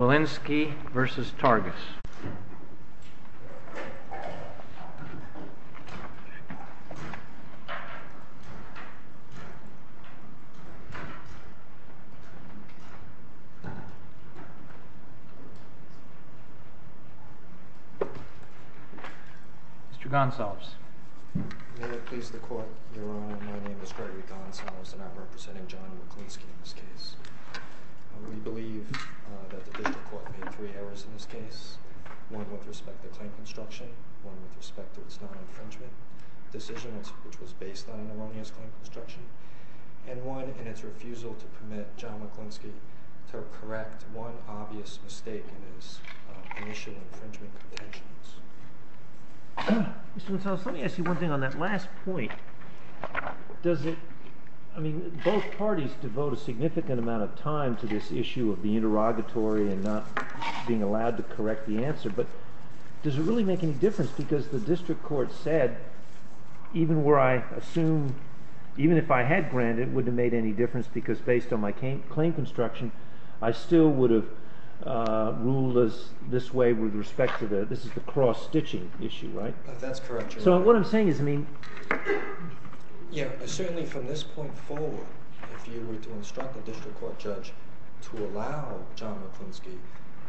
Mr. Gonsalves. May it please the Court, Your Honor, my name is Gregory Gonsalves, and I am representing John Wleklinski in this case. We believe that the District Court made three errors in this case, one with respect to claim construction, one with respect to its non-infringement decision, which was based on an erroneous claim construction, and one in its refusal to permit John Wleklinski to correct one obvious mistake in his initial infringement pretensions. Mr. Gonsalves, let me ask you one thing on that last point. Both parties devote a significant amount of time to this issue of being interrogatory and not being allowed to correct the answer, but does it really make any difference? Because the District Court said, even if I had granted, it wouldn't have made any difference because based on my claim construction, I still would have ruled this way with respect to the cross-stitching issue, right? Certainly from this point forward, if you were to instruct the District Court judge to allow John Wleklinski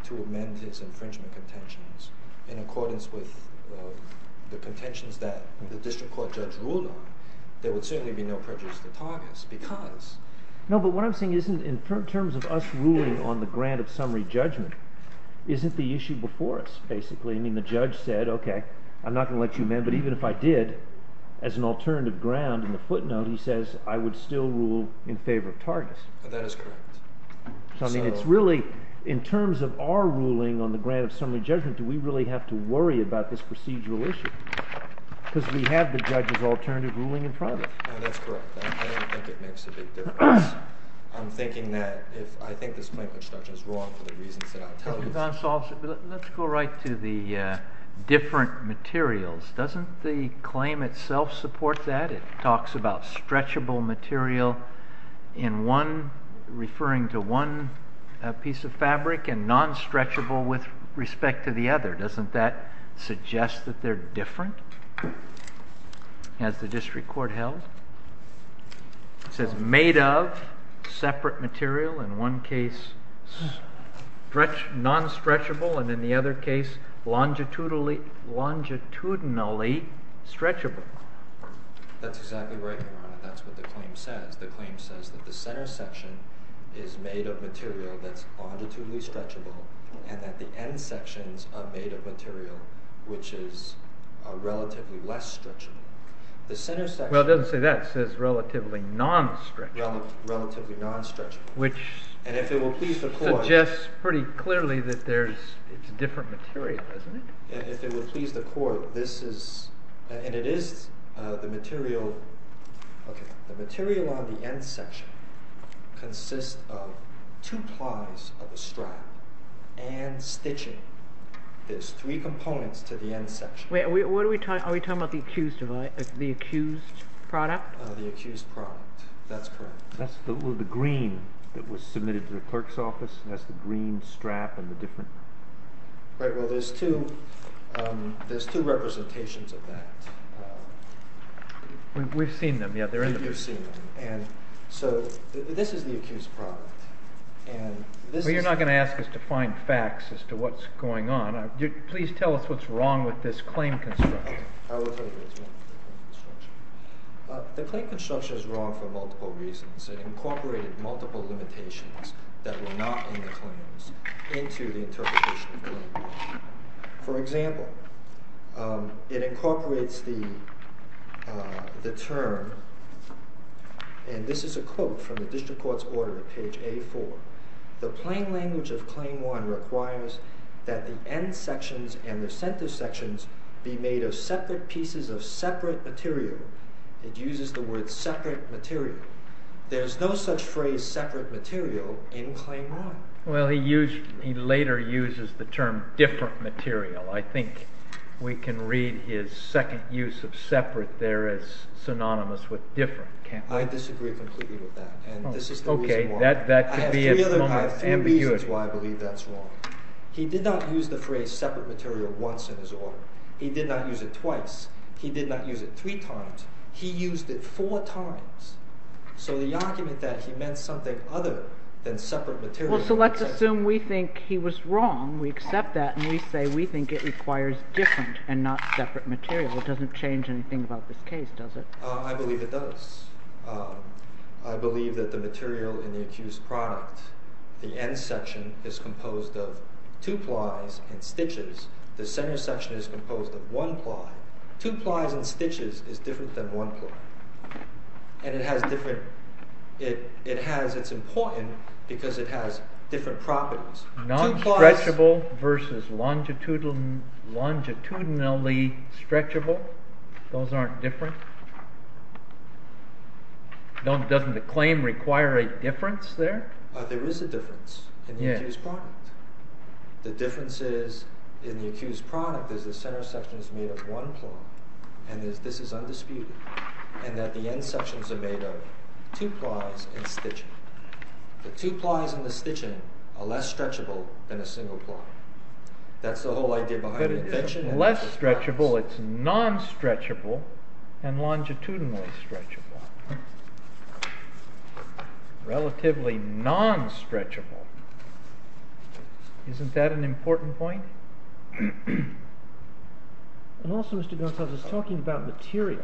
to amend his infringement contentions in accordance with the contentions that the District Court judge ruled on, there would certainly be no prejudice to Targus because… But even if I did, as an alternative ground in the footnote, he says, I would still rule in favor of Targus. That is correct. So I mean, it's really, in terms of our ruling on the grant of summary judgment, do we really have to worry about this procedural issue? Because we have the judge's alternative ruling in front of us. That's correct. I don't think it makes a big difference. I'm thinking that if I think this claim construction is wrong for the reasons that I'll tell you… Let's go right to the different materials. Doesn't the claim itself support that? It talks about stretchable material in one, referring to one piece of fabric and non-stretchable with respect to the other. Doesn't that suggest that they're different, as the District Court held? It says made of separate material, in one case non-stretchable, and in the other case longitudinally stretchable. That's exactly right, Your Honor. That's what the claim says. The claim says that the center section is made of material that's longitudinally stretchable, and that the end sections are made of material which is relatively less stretchable. Well, it doesn't say that. It says relatively non-stretchable. Relatively non-stretchable. Which suggests pretty clearly that it's a different material, doesn't it? If it would please the Court, this is… And it is the material… The material on the end section consists of two plies of a strap and stitching. There's three components to the end section. Wait, are we talking about the accused product? The accused product. That's correct. That's the green that was submitted to the clerk's office? That's the green strap and the different… Right. Well, there's two representations of that. We've seen them. Yeah, they're in the brief. You've seen them. And so this is the accused product. And this is… Well, you're not going to ask us to find facts as to what's going on. Please tell us what's wrong with this claim construction. Okay. I will tell you what's wrong with the claim construction. The claim construction is wrong for multiple reasons. It incorporated multiple limitations that were not in the claims into the interpretation of the claim. For example, it incorporates the term – and this is a quote from the district court's order at page A4 – the plain language of Claim 1 requires that the end sections and the center sections be made of separate pieces of separate material. It uses the word separate material. There's no such phrase separate material in Claim 1. Well, he later uses the term different material. I think we can read his second use of separate there as synonymous with different, can't we? I disagree completely with that. And this is the reason why. Okay. That could be a moment of ambiguity. I have three other reasons why I believe that's wrong. He did not use the phrase separate material once in his order. He did not use it twice. He did not use it three times. He used it four times. So the argument that he meant something other than separate material… Well, so let's assume we think he was wrong. We accept that and we say we think it requires different and not separate material. It doesn't change anything about this case, does it? I believe it does. I believe that the material in the accused product, the end section, is composed of two plies and stitches. The center section is composed of one ply. Two plies and stitches is different than one ply. It's important because it has different properties. Non-stretchable versus longitudinally stretchable, those aren't different? Doesn't the claim require a difference there? There is a difference in the accused product. The difference is in the accused product is the center section is made of one ply, and this is undisputed, and that the end sections are made of two plies and stitching. The two plies and the stitching are less stretchable than a single ply. That's the whole idea behind the invention. It's less stretchable, it's non-stretchable, and longitudinally stretchable. Relatively non-stretchable. Isn't that an important point? Also, Mr. Gonsalves, it's talking about material.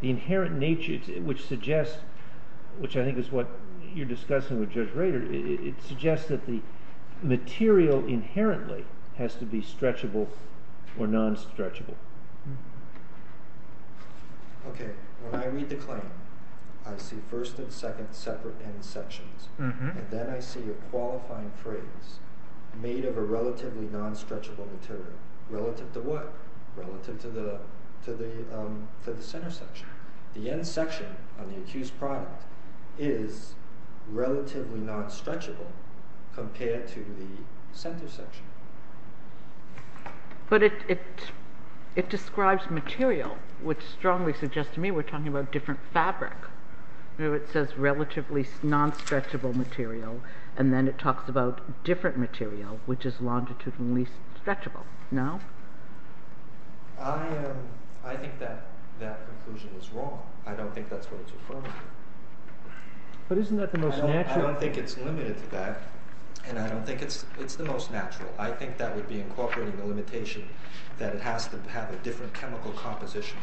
The inherent nature, which I think is what you're discussing with Judge Rader, it suggests that the material inherently has to be stretchable or non-stretchable. When I read the claim, I see first and second separate end sections, and then I see a qualifying phrase, made of a relatively non-stretchable material. Relative to what? Relative to the center section. The end section on the accused product is relatively non-stretchable compared to the center section. But it describes material, which strongly suggests to me we're talking about different fabric. It says relatively non-stretchable material, and then it talks about different material, which is longitudinally stretchable. No? I think that conclusion is wrong. I don't think that's what it's referring to. I don't think it's limited to that, and I don't think it's the most natural. I think that would be incorporating the limitation that it has to have a different chemical composition.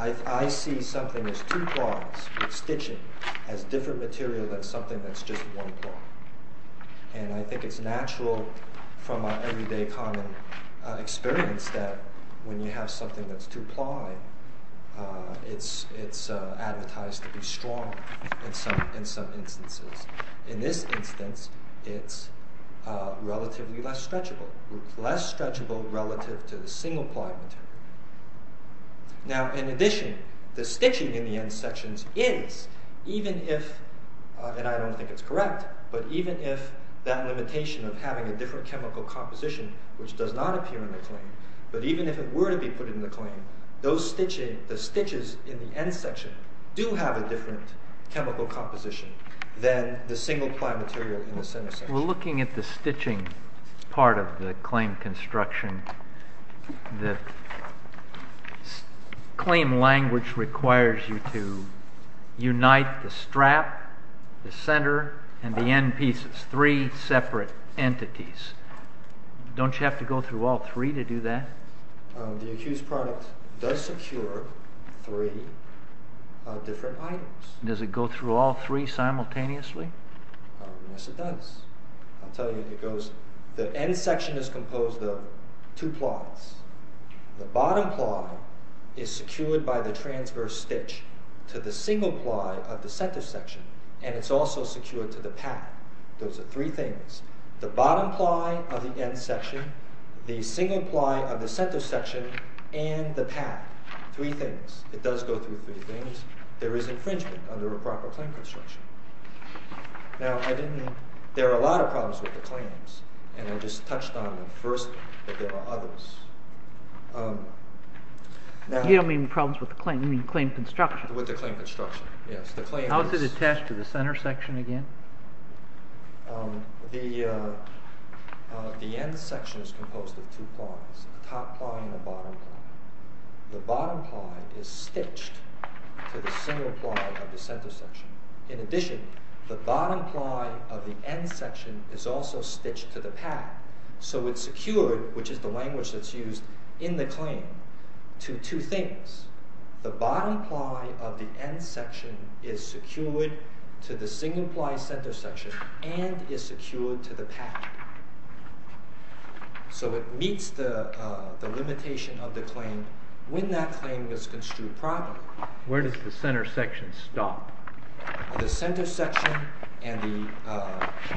I see something as two plies with stitching as different material than something that's just one ply. And I think it's natural from our everyday common experience that when you have something that's two ply, it's advertised to be strong in some instances. In this instance, it's relatively less stretchable. Less stretchable relative to the single ply material. Now, in addition, the stitching in the end sections is, even if, and I don't think it's correct, but even if that limitation of having a different chemical composition, which does not appear in the claim, but even if it were to be put in the claim, the stitches in the end section do have a different chemical composition than the single ply material in the center section. We're looking at the stitching part of the claim construction. The claim language requires you to unite the strap, the center, and the end pieces, three separate entities. Don't you have to go through all three to do that? The accused product does secure three different items. Does it go through all three simultaneously? Yes, it does. The end section is composed of two plies. The bottom ply is secured by the transverse stitch to the single ply of the center section, and it's also secured to the pad. Those are three things. The bottom ply of the end section, the single ply of the center section, and the pad. Three things. It does go through three things. There is infringement under a proper claim construction. Now, there are a lot of problems with the claims, and I just touched on them firstly, but there are others. You don't mean problems with the claim, you mean claim construction. With the claim construction, yes. How is it attached to the center section again? The end section is composed of two plies, a top ply and a bottom ply. The bottom ply is stitched to the single ply of the center section. In addition, the bottom ply of the end section is also stitched to the pad, so it's secured, which is the language that's used in the claim, to two things. The bottom ply of the end section is secured to the single ply center section and is secured to the pad. So it meets the limitation of the claim when that claim is construed properly. Where does the center section stop? The center section and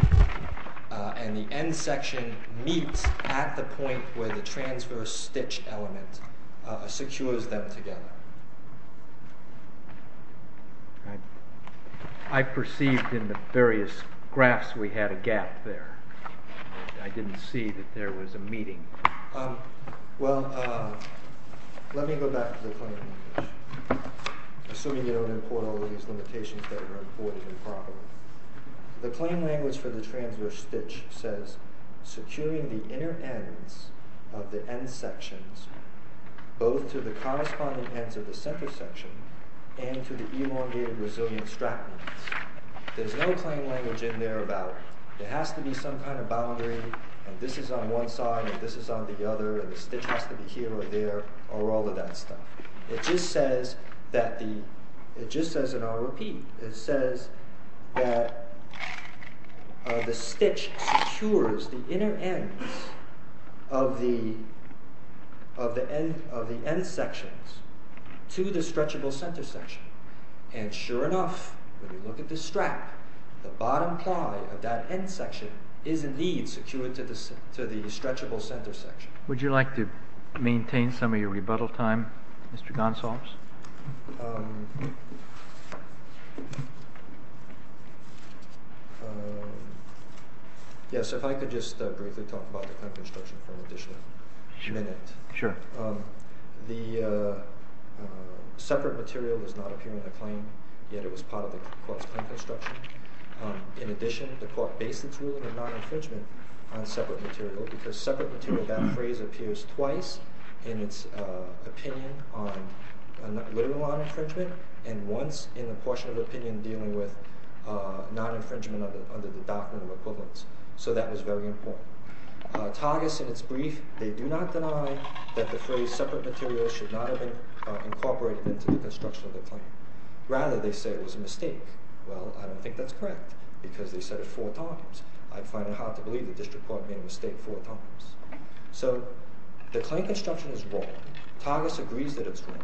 the end section meet at the point where the transverse stitch element secures them together. I perceived in the various graphs we had a gap there. I didn't see that there was a meeting. Well, let me go back to the claim language. Assuming you don't import all of these limitations that were imported improperly. The claim language for the transverse stitch says, securing the inner ends of the end sections both to the corresponding ends of the center section and to the elongated resilient strap ends. There's no claim language in there about, there has to be some kind of boundary, and this is on one side and this is on the other, and the stitch has to be here or there, or all of that stuff. It just says, and I'll repeat, it says that the stitch secures the inner ends of the end sections to the stretchable center section. And sure enough, when you look at the strap, the bottom ply of that end section is indeed secured to the stretchable center section. Would you like to maintain some of your rebuttal time, Mr. Gonsalves? Yes, if I could just briefly talk about the claim construction for an additional minute. Sure. The separate material does not appear in the claim, yet it was part of the court's claim construction. In addition, the court based its ruling on non-infringement on separate material, because separate material, that phrase appears twice in its opinion on, literally on infringement, and once in the portion of opinion dealing with non-infringement under the document of equivalence. So that was very important. Targis, in its brief, they do not deny that the phrase separate material should not have been incorporated into the construction of the claim. Rather, they say it was a mistake. Well, I don't think that's correct, because they said it four times. I find it hard to believe the district court made a mistake four times. So the claim construction is wrong. Targis agrees that it's wrong.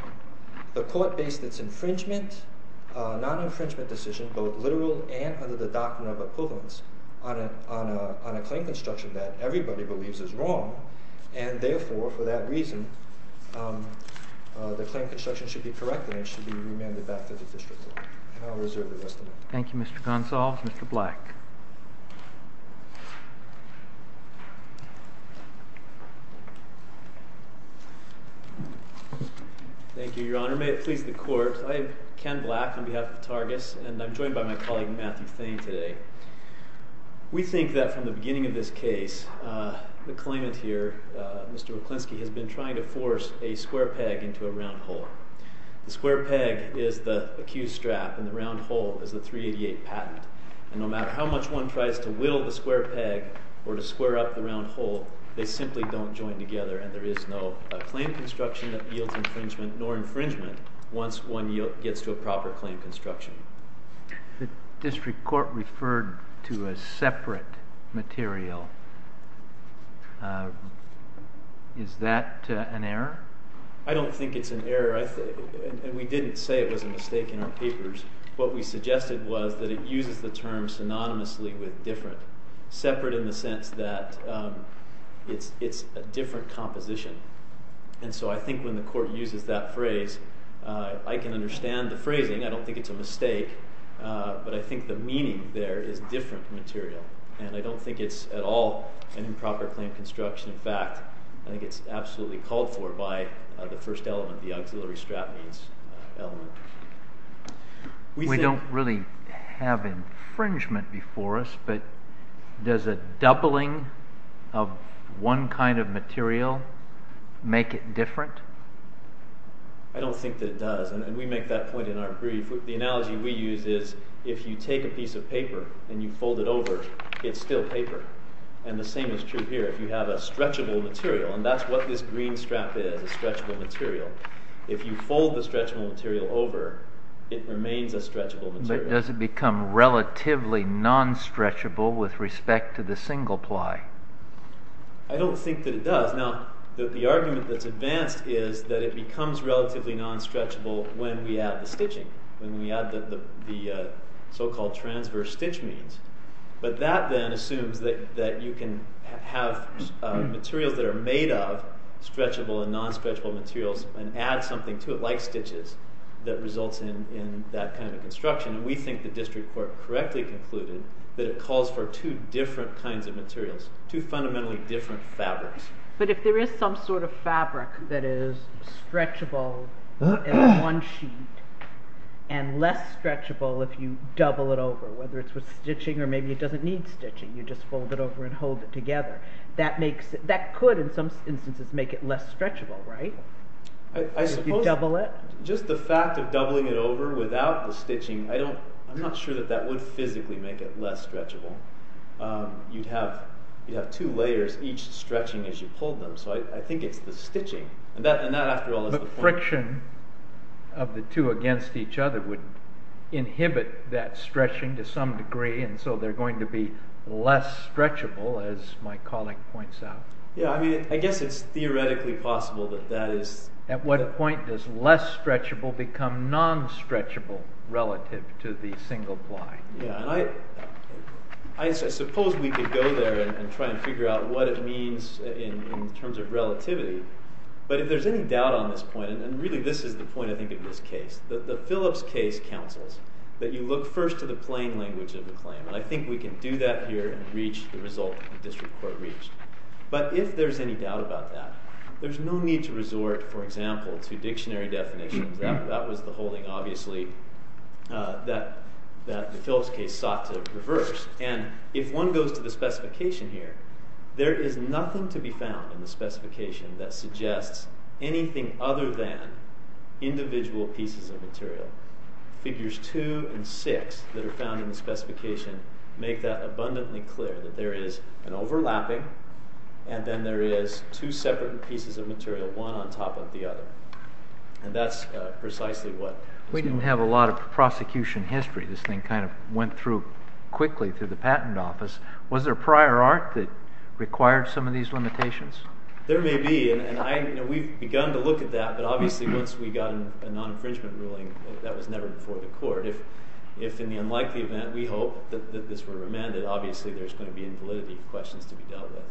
The court based its non-infringement decision, both literal and under the document of equivalence, on a claim construction that everybody believes is wrong, and therefore, for that reason, the claim construction should be corrected and should be remanded back to the district court. And I'll reserve the rest of it. Thank you, Mr. Gonsalves. Mr. Black? Thank you, Your Honor. May it please the court. I'm Ken Black on behalf of Targis, and I'm joined by my colleague, Matthew Thain, today. We think that from the beginning of this case, the claimant here, Mr. Wilkinski, has been trying to force a square peg into a round hole. The square peg is the accused strap, and the round hole is the 388 patent. And no matter how much one tries to whittle the square peg or to square up the round hole, they simply don't join together, and there is no claim construction that yields infringement nor infringement once one gets to a proper claim construction. The district court referred to a separate material. Is that an error? I don't think it's an error, and we didn't say it was a mistake in our papers. What we suggested was that it uses the term synonymously with different, separate in the sense that it's a different composition. And so I think when the court uses that phrase, I can understand the phrasing. I don't think it's a mistake, but I think the meaning there is different material, and I don't think it's at all an improper claim construction. In fact, I think it's absolutely called for by the first element, the auxiliary strap means element. We don't really have infringement before us, but does a doubling of one kind of material make it different? I don't think that it does, and we make that point in our brief. The analogy we use is if you take a piece of paper and you fold it over, it's still paper. And the same is true here. If you have a stretchable material, and that's what this green strap is, a stretchable material. If you fold the stretchable material over, it remains a stretchable material. But does it become relatively non-stretchable with respect to the single ply? I don't think that it does. Now, the argument that's advanced is that it becomes relatively non-stretchable when we add the stitching, when we add the so-called transverse stitch means. But that then assumes that you can have materials that are made of stretchable and non-stretchable materials and add something to it, like stitches, that results in that kind of construction. And we think the district court correctly concluded that it calls for two different kinds of materials, two fundamentally different fabrics. But if there is some sort of fabric that is stretchable in one sheet and less stretchable if you double it over, whether it's with stitching or maybe it doesn't need stitching, you just fold it over and hold it together, that could in some instances make it less stretchable, right? I suppose, just the fact of doubling it over without the stitching, I'm not sure that that would physically make it less stretchable. You'd have two layers, each stretching as you pulled them, so I think it's the stitching. But friction of the two against each other would inhibit that stretching to some degree, and so they're going to be less stretchable, as my colleague points out. Yeah, I mean, I guess it's theoretically possible that that is... At what point does less stretchable become non-stretchable relative to the single ply? Yeah, and I suppose we could go there and try and figure out what it means in terms of relativity, but if there's any doubt on this point, and really this is the point, I think, of this case, that the Phillips case counsels that you look first to the plain language of the claim, and I think we can do that here and reach the result the district court reached. But if there's any doubt about that, there's no need to resort, for example, to dictionary definitions. That was the holding, obviously, that the Phillips case sought to reverse. And if one goes to the specification here, there is nothing to be found in the specification that suggests anything other than individual pieces of material. Figures 2 and 6 that are found in the specification make that abundantly clear, that there is an overlapping, and then there is two separate pieces of material, one on top of the other. And that's precisely what... We didn't have a lot of prosecution history. This thing kind of went through quickly through the patent office. Was there prior art that required some of these limitations? There may be, and we've begun to look at that, but obviously once we got a non-infringement ruling, that was never before the court. If in the unlikely event we hope that this were remanded, obviously there's going to be invalidity questions to be dealt with.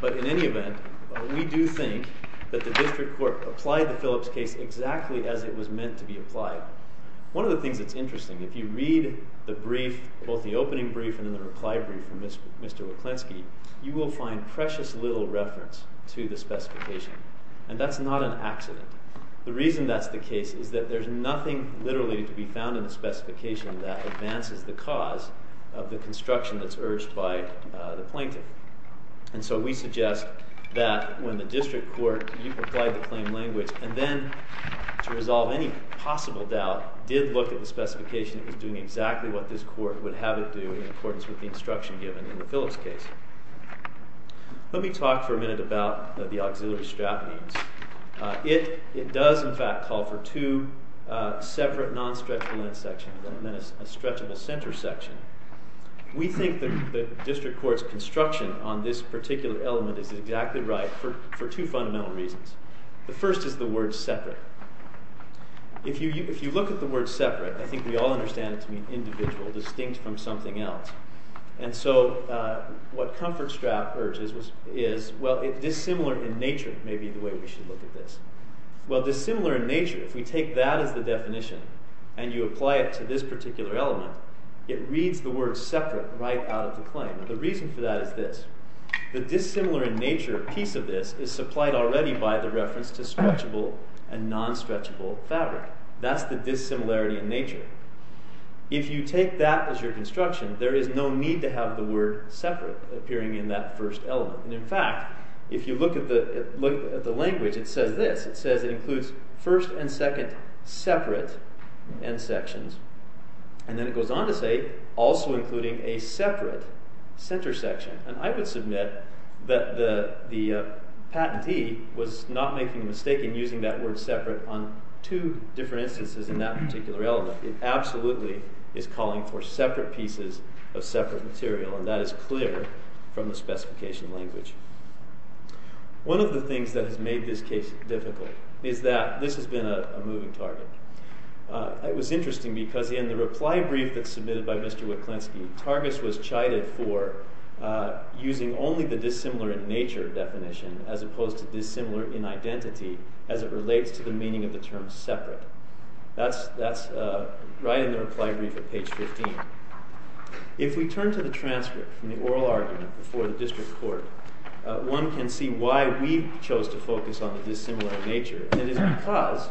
But in any event, we do think that the district court applied the Phillips case exactly as it was meant to be applied. One of the things that's interesting, if you read the brief, both the opening brief and the reply brief from Mr. Waklensky, you will find precious little reference to the specification. And that's not an accident. The reason that's the case is that there's nothing literally to be found in the specification that advances the cause of the construction that's urged by the plaintiff. And so we suggest that when the district court applied the claim language and then, to resolve any possible doubt, did look at the specification, it was doing exactly what this court would have it do in accordance with the instruction given in the Phillips case. Let me talk for a minute about the auxiliary strap means. It does, in fact, call for two separate non-stretchable end sections and then a stretchable center section. We think that the district court's construction on this particular element is exactly right for two fundamental reasons. The first is the word separate. If you look at the word separate, I think we all understand it to mean individual, distinct from something else. And so what comfort strap urges is, well, dissimilar in nature may be the way we should look at this. Well, dissimilar in nature, if we take that as the definition and you apply it to this particular element, it reads the word separate right out of the claim. And the reason for that is this. The dissimilar in nature piece of this is supplied already by the reference to stretchable and non-stretchable fabric. That's the dissimilarity in nature. If you take that as your construction, there is no need to have the word separate appearing in that first element. In fact, if you look at the language, it says this. It says it includes first and second separate end sections. And then it goes on to say also including a separate center section. And I would submit that the patentee was not making a mistake in using that word separate on two different instances in that particular element. It absolutely is calling for separate pieces of separate material. And that is clear from the specification language. One of the things that has made this case difficult is that this has been a moving target. It was interesting because in the reply brief that's submitted by Mr. Witklinski, Targus was chided for using only the dissimilar in nature definition as opposed to dissimilar in identity as it relates to the meaning of the term separate. That's right in the reply brief at page 15. If we turn to the transcript from the oral argument before the district court, one can see why we chose to focus on the dissimilar in nature. And it is because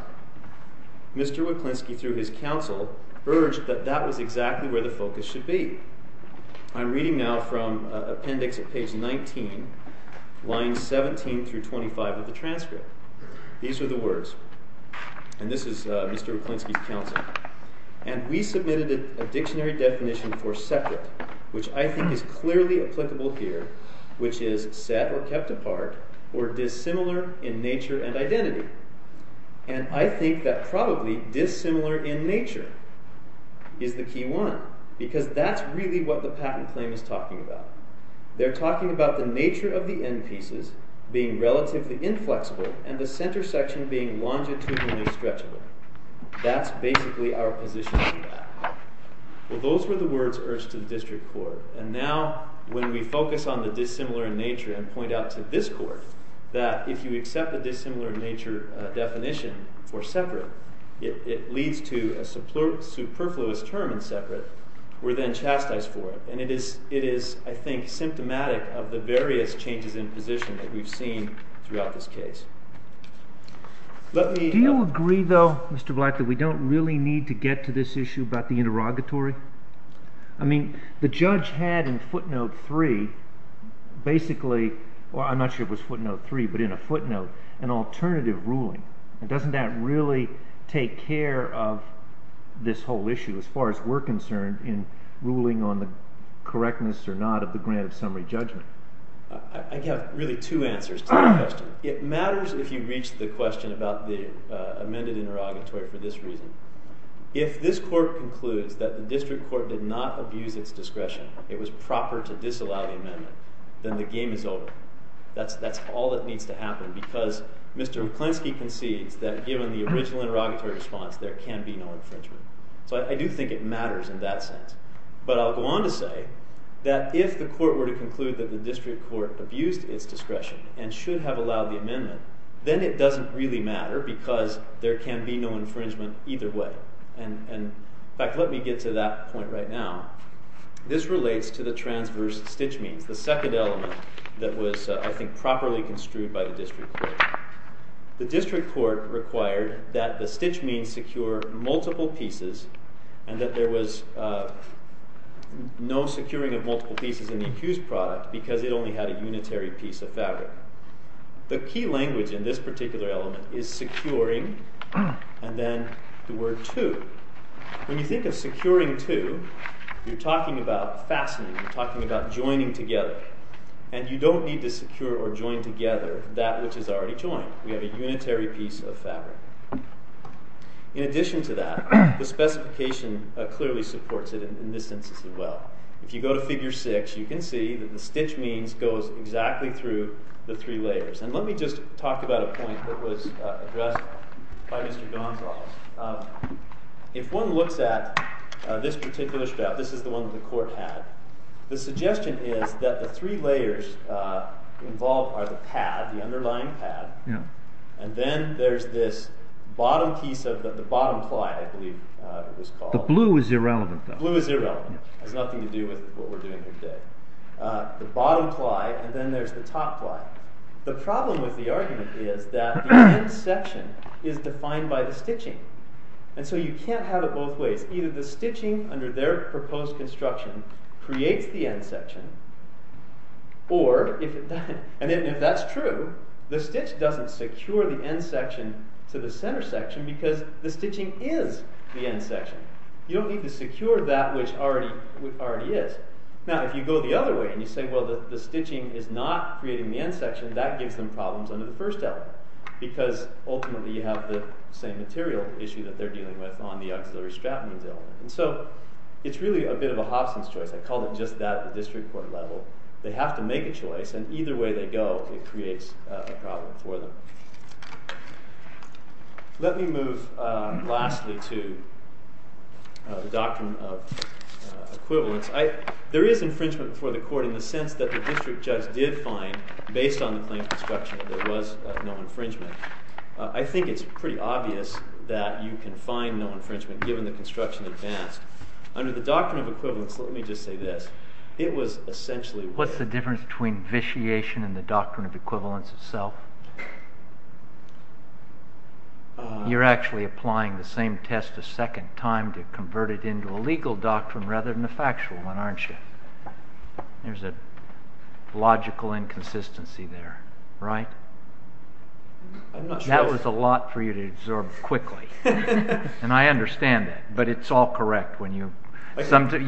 Mr. Witklinski, through his counsel, urged that that was exactly where the focus should be. I'm reading now from appendix at page 19, lines 17 through 25 of the transcript. These are the words. And this is Mr. Witklinski's counsel. And we submitted a dictionary definition for separate, which I think is clearly applicable here, which is set or kept apart or dissimilar in nature and identity. And I think that probably dissimilar in nature is the key one, because that's really what the patent claim is talking about. They're talking about the nature of the end pieces being relatively inflexible and the center section being longitudinally stretchable. That's basically our position on that. Well, those were the words urged to the district court. And now when we focus on the dissimilar in nature and point out to this court that if you accept the dissimilar in nature definition for separate, it leads to a superfluous term in separate. We're then chastised for it. And it is, I think, symptomatic of the various changes in position that we've seen throughout this case. Do you agree, though, Mr. Black, that we don't really need to get to this issue about the interrogatory? I mean, the judge had in footnote three basically, well, I'm not sure it was footnote three, but in a footnote an alternative ruling. And doesn't that really take care of this whole issue as far as we're concerned in ruling on the correctness or not of the grant of summary judgment? I have really two answers to that question. One, it matters if you reach the question about the amended interrogatory for this reason. If this court concludes that the district court did not abuse its discretion, it was proper to disallow the amendment, then the game is over. That's all that needs to happen, because Mr. McClensky concedes that given the original interrogatory response, there can be no infringement. So I do think it matters in that sense. But I'll go on to say that if the court were to conclude that the district court abused its discretion and should have allowed the amendment, then it doesn't really matter, because there can be no infringement either way. In fact, let me get to that point right now. This relates to the transverse stitch means, the second element that was, I think, properly construed by the district court. The district court required that the stitch means secure multiple pieces and that there was no securing of multiple pieces in the accused product because it only had a unitary piece of fabric. The key language in this particular element is securing, and then the word to. When you think of securing to, you're talking about fastening, you're talking about joining together. And you don't need to secure or join together that which is already joined. We have a unitary piece of fabric. In addition to that, the specification clearly supports it in this instance as well. If you go to figure six, you can see that the stitch means goes exactly through the three layers. Let me just talk about a point that was addressed by Mr. Gonsalves. If one looks at this particular strap, this is the one that the court had, the suggestion is that the three layers involved are the pad, the underlying pad, and then there's this bottom piece of the bottom ply, I believe it was called. The blue is irrelevant, though. Blue is irrelevant. It has nothing to do with what we're doing here today. The bottom ply, and then there's the top ply. The problem with the argument is that the end section is defined by the stitching. And so you can't have it both ways. Either the stitching under their proposed construction creates the end section, or, if that's true, the stitch doesn't secure the end section to the center section because the stitching is the end section. You don't need to secure that which already is. Now, if you go the other way, and you say, well, the stitching is not creating the end section, that gives them problems under the first element because, ultimately, you have the same material issue that they're dealing with on the auxiliary strap. And so it's really a bit of a Hobson's choice. I called it just that at the district court level. They have to make a choice, and either way they go, it creates a problem for them. Let me move, lastly, to the doctrine of equivalence. There is infringement before the court in the sense that the district judge did find, based on the claims construction, that there was no infringement. I think it's pretty obvious that you can find no infringement given the construction advanced. Under the doctrine of equivalence, let me just say this. It was essentially... You're actually applying the same test a second time to convert it into a legal doctrine rather than a factual one, aren't you? There's a logical inconsistency there, right? That was a lot for you to absorb quickly. And I understand that, but it's all correct. You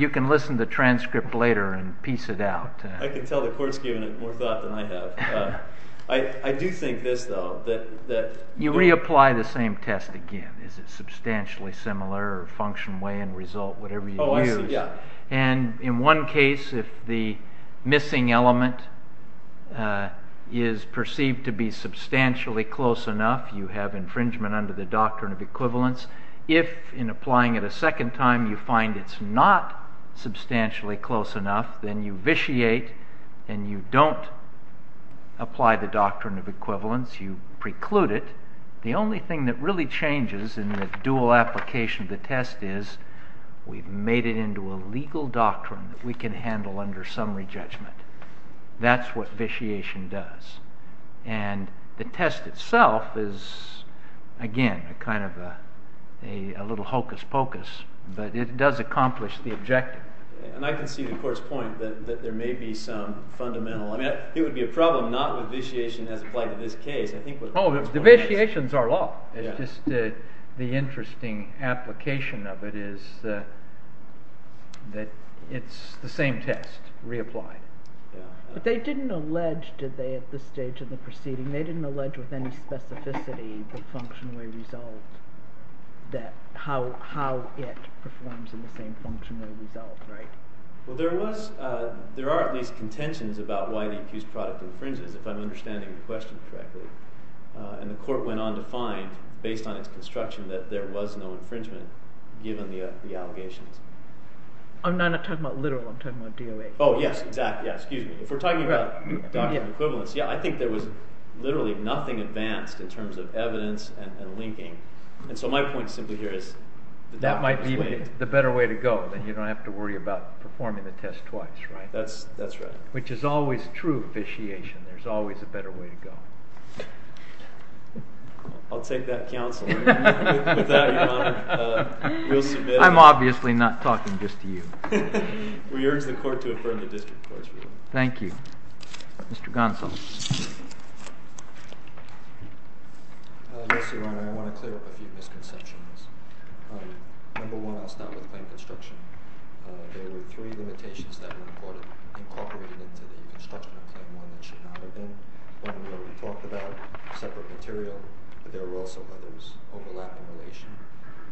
can listen to the transcript later and piece it out. I can tell the court's given it more thought than I have. I do think this, though, that... You reapply the same test again. Is it substantially similar or function, way, and result? Whatever you use. And in one case, if the missing element is perceived to be substantially close enough, you have infringement under the doctrine of equivalence. If, in applying it a second time, you find it's not substantially close enough, then you vitiate and you don't apply the doctrine of equivalence. You preclude it. The only thing that really changes in the dual application of the test is we've made it into a legal doctrine that we can handle under summary judgment. That's what vitiation does. And the test itself is, again, a kind of a little hocus-pocus, but it does accomplish the objective. And I can see the court's point that there may be some fundamental... It would be a problem not with vitiation as applied to this case. Oh, the vitiations are law. It's just the interesting application of it is that it's the same test reapplied. But they didn't allege, did they, at this stage in the proceeding, they didn't allege with any specificity the function, way, result, how it performs in the same function or result, right? Well, there are at least contentions about why the accused product infringes, if I'm understanding the question correctly. And the court went on to find, based on its construction, that there was no infringement given the allegations. I'm not talking about literal. I'm talking about DOA. Oh, yes, exactly. If we're talking about doctrine of equivalence, I think there was literally nothing advanced in terms of evidence and linking. And so my point simply here is... That might be the better way to go. Then you don't have to worry about performing the test twice, right? That's right. Which is always true vitiation. There's always a better way to go. I'll take that counsel. With that, Your Honor, we'll submit... I'm obviously not talking just to you. We urge the court to affirm the district court's ruling. Thank you. Mr. Gonsalves. Yes, Your Honor. I want to clear up a few misconceptions. Number one, I'll start with claim construction. There were three limitations that were incorporated into the construction of Claim 1 that should not have been. One we already talked about, separate material. There were also others overlapping relation.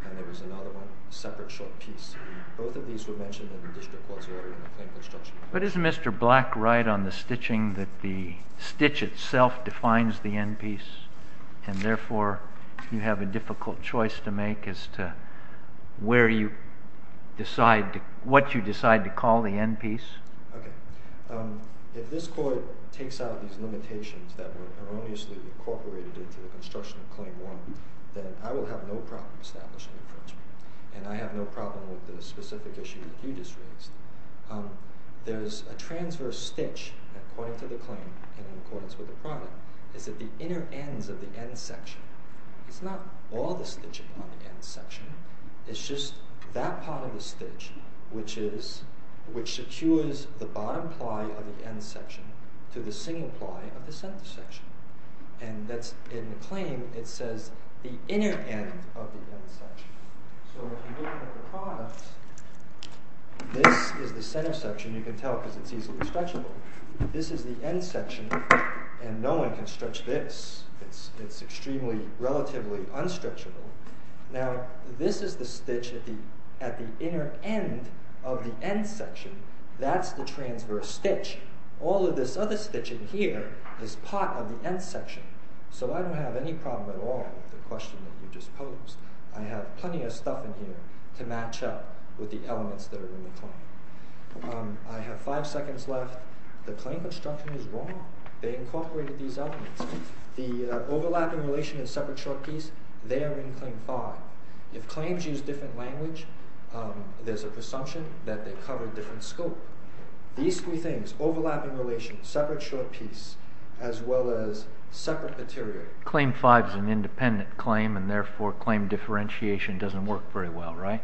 And there was another one, separate short piece. Both of these were mentioned in the district court's order in the claim construction. But isn't Mr. Black right on the stitching that the stitch itself defines the end piece and therefore you have a difficult choice to make as to where you decide, what you decide to call the end piece? Okay. If this court takes out these limitations that were erroneously incorporated into the construction of Claim 1, then I will have no problem establishing infringement. And I have no problem with the specific issue that you just raised. There's a transverse stitch, according to the claim, and in accordance with the product, is at the inner ends of the end section. It's not all the stitching on the end section. It's just that part of the stitch which secures the bottom ply of the end section to the single ply of the center section. And that's in the claim, it says the inner end of the end section. So if you look at the product, this is the center section. You can tell because it's easily stretchable. This is the end section, and no one can stretch this. It's extremely, relatively unstretchable. Now, this is the stitch at the inner end of the end section. That's the transverse stitch. All of this other stitching here is part of the end section. So I don't have any problem at all with the question that you just posed. I have plenty of stuff in here to match up with the elements that are in the claim. I have five seconds left. The claim construction is wrong. They incorporated these elements. The overlapping relation and separate short piece, they are in Claim 5. If claims use different language, there's a presumption that they cover different scope. These three things, overlapping relation, separate short piece, as well as separate material... Claim 5 is an independent claim, and therefore claim differentiation doesn't work very well, right?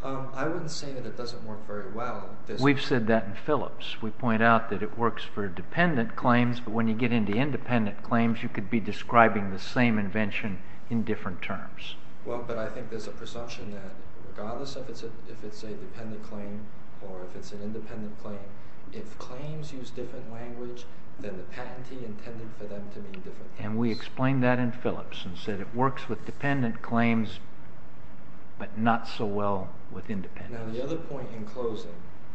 I wouldn't say that it doesn't work very well. We've said that in Phillips. We point out that it works for dependent claims, but when you get into independent claims, you could be describing the same invention in different terms. Well, but I think there's a presumption that regardless if it's a dependent claim or if it's an independent claim, if claims use different language, then the patentee intended for them to be different things. And we explained that in Phillips and said it works with dependent claims, but not so well with independent claims. Now, the other point in closing,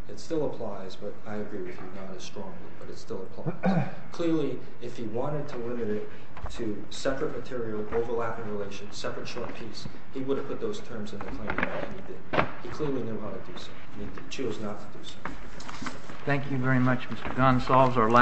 it still applies, but I agree with you, not as strongly, but it still applies. Clearly, if he wanted to limit it to separate material, overlapping relation, separate short piece, he would have put those terms in the claim. He clearly knew how to do so. He chose not to do so. Thank you very much, Mr. Gonsalves.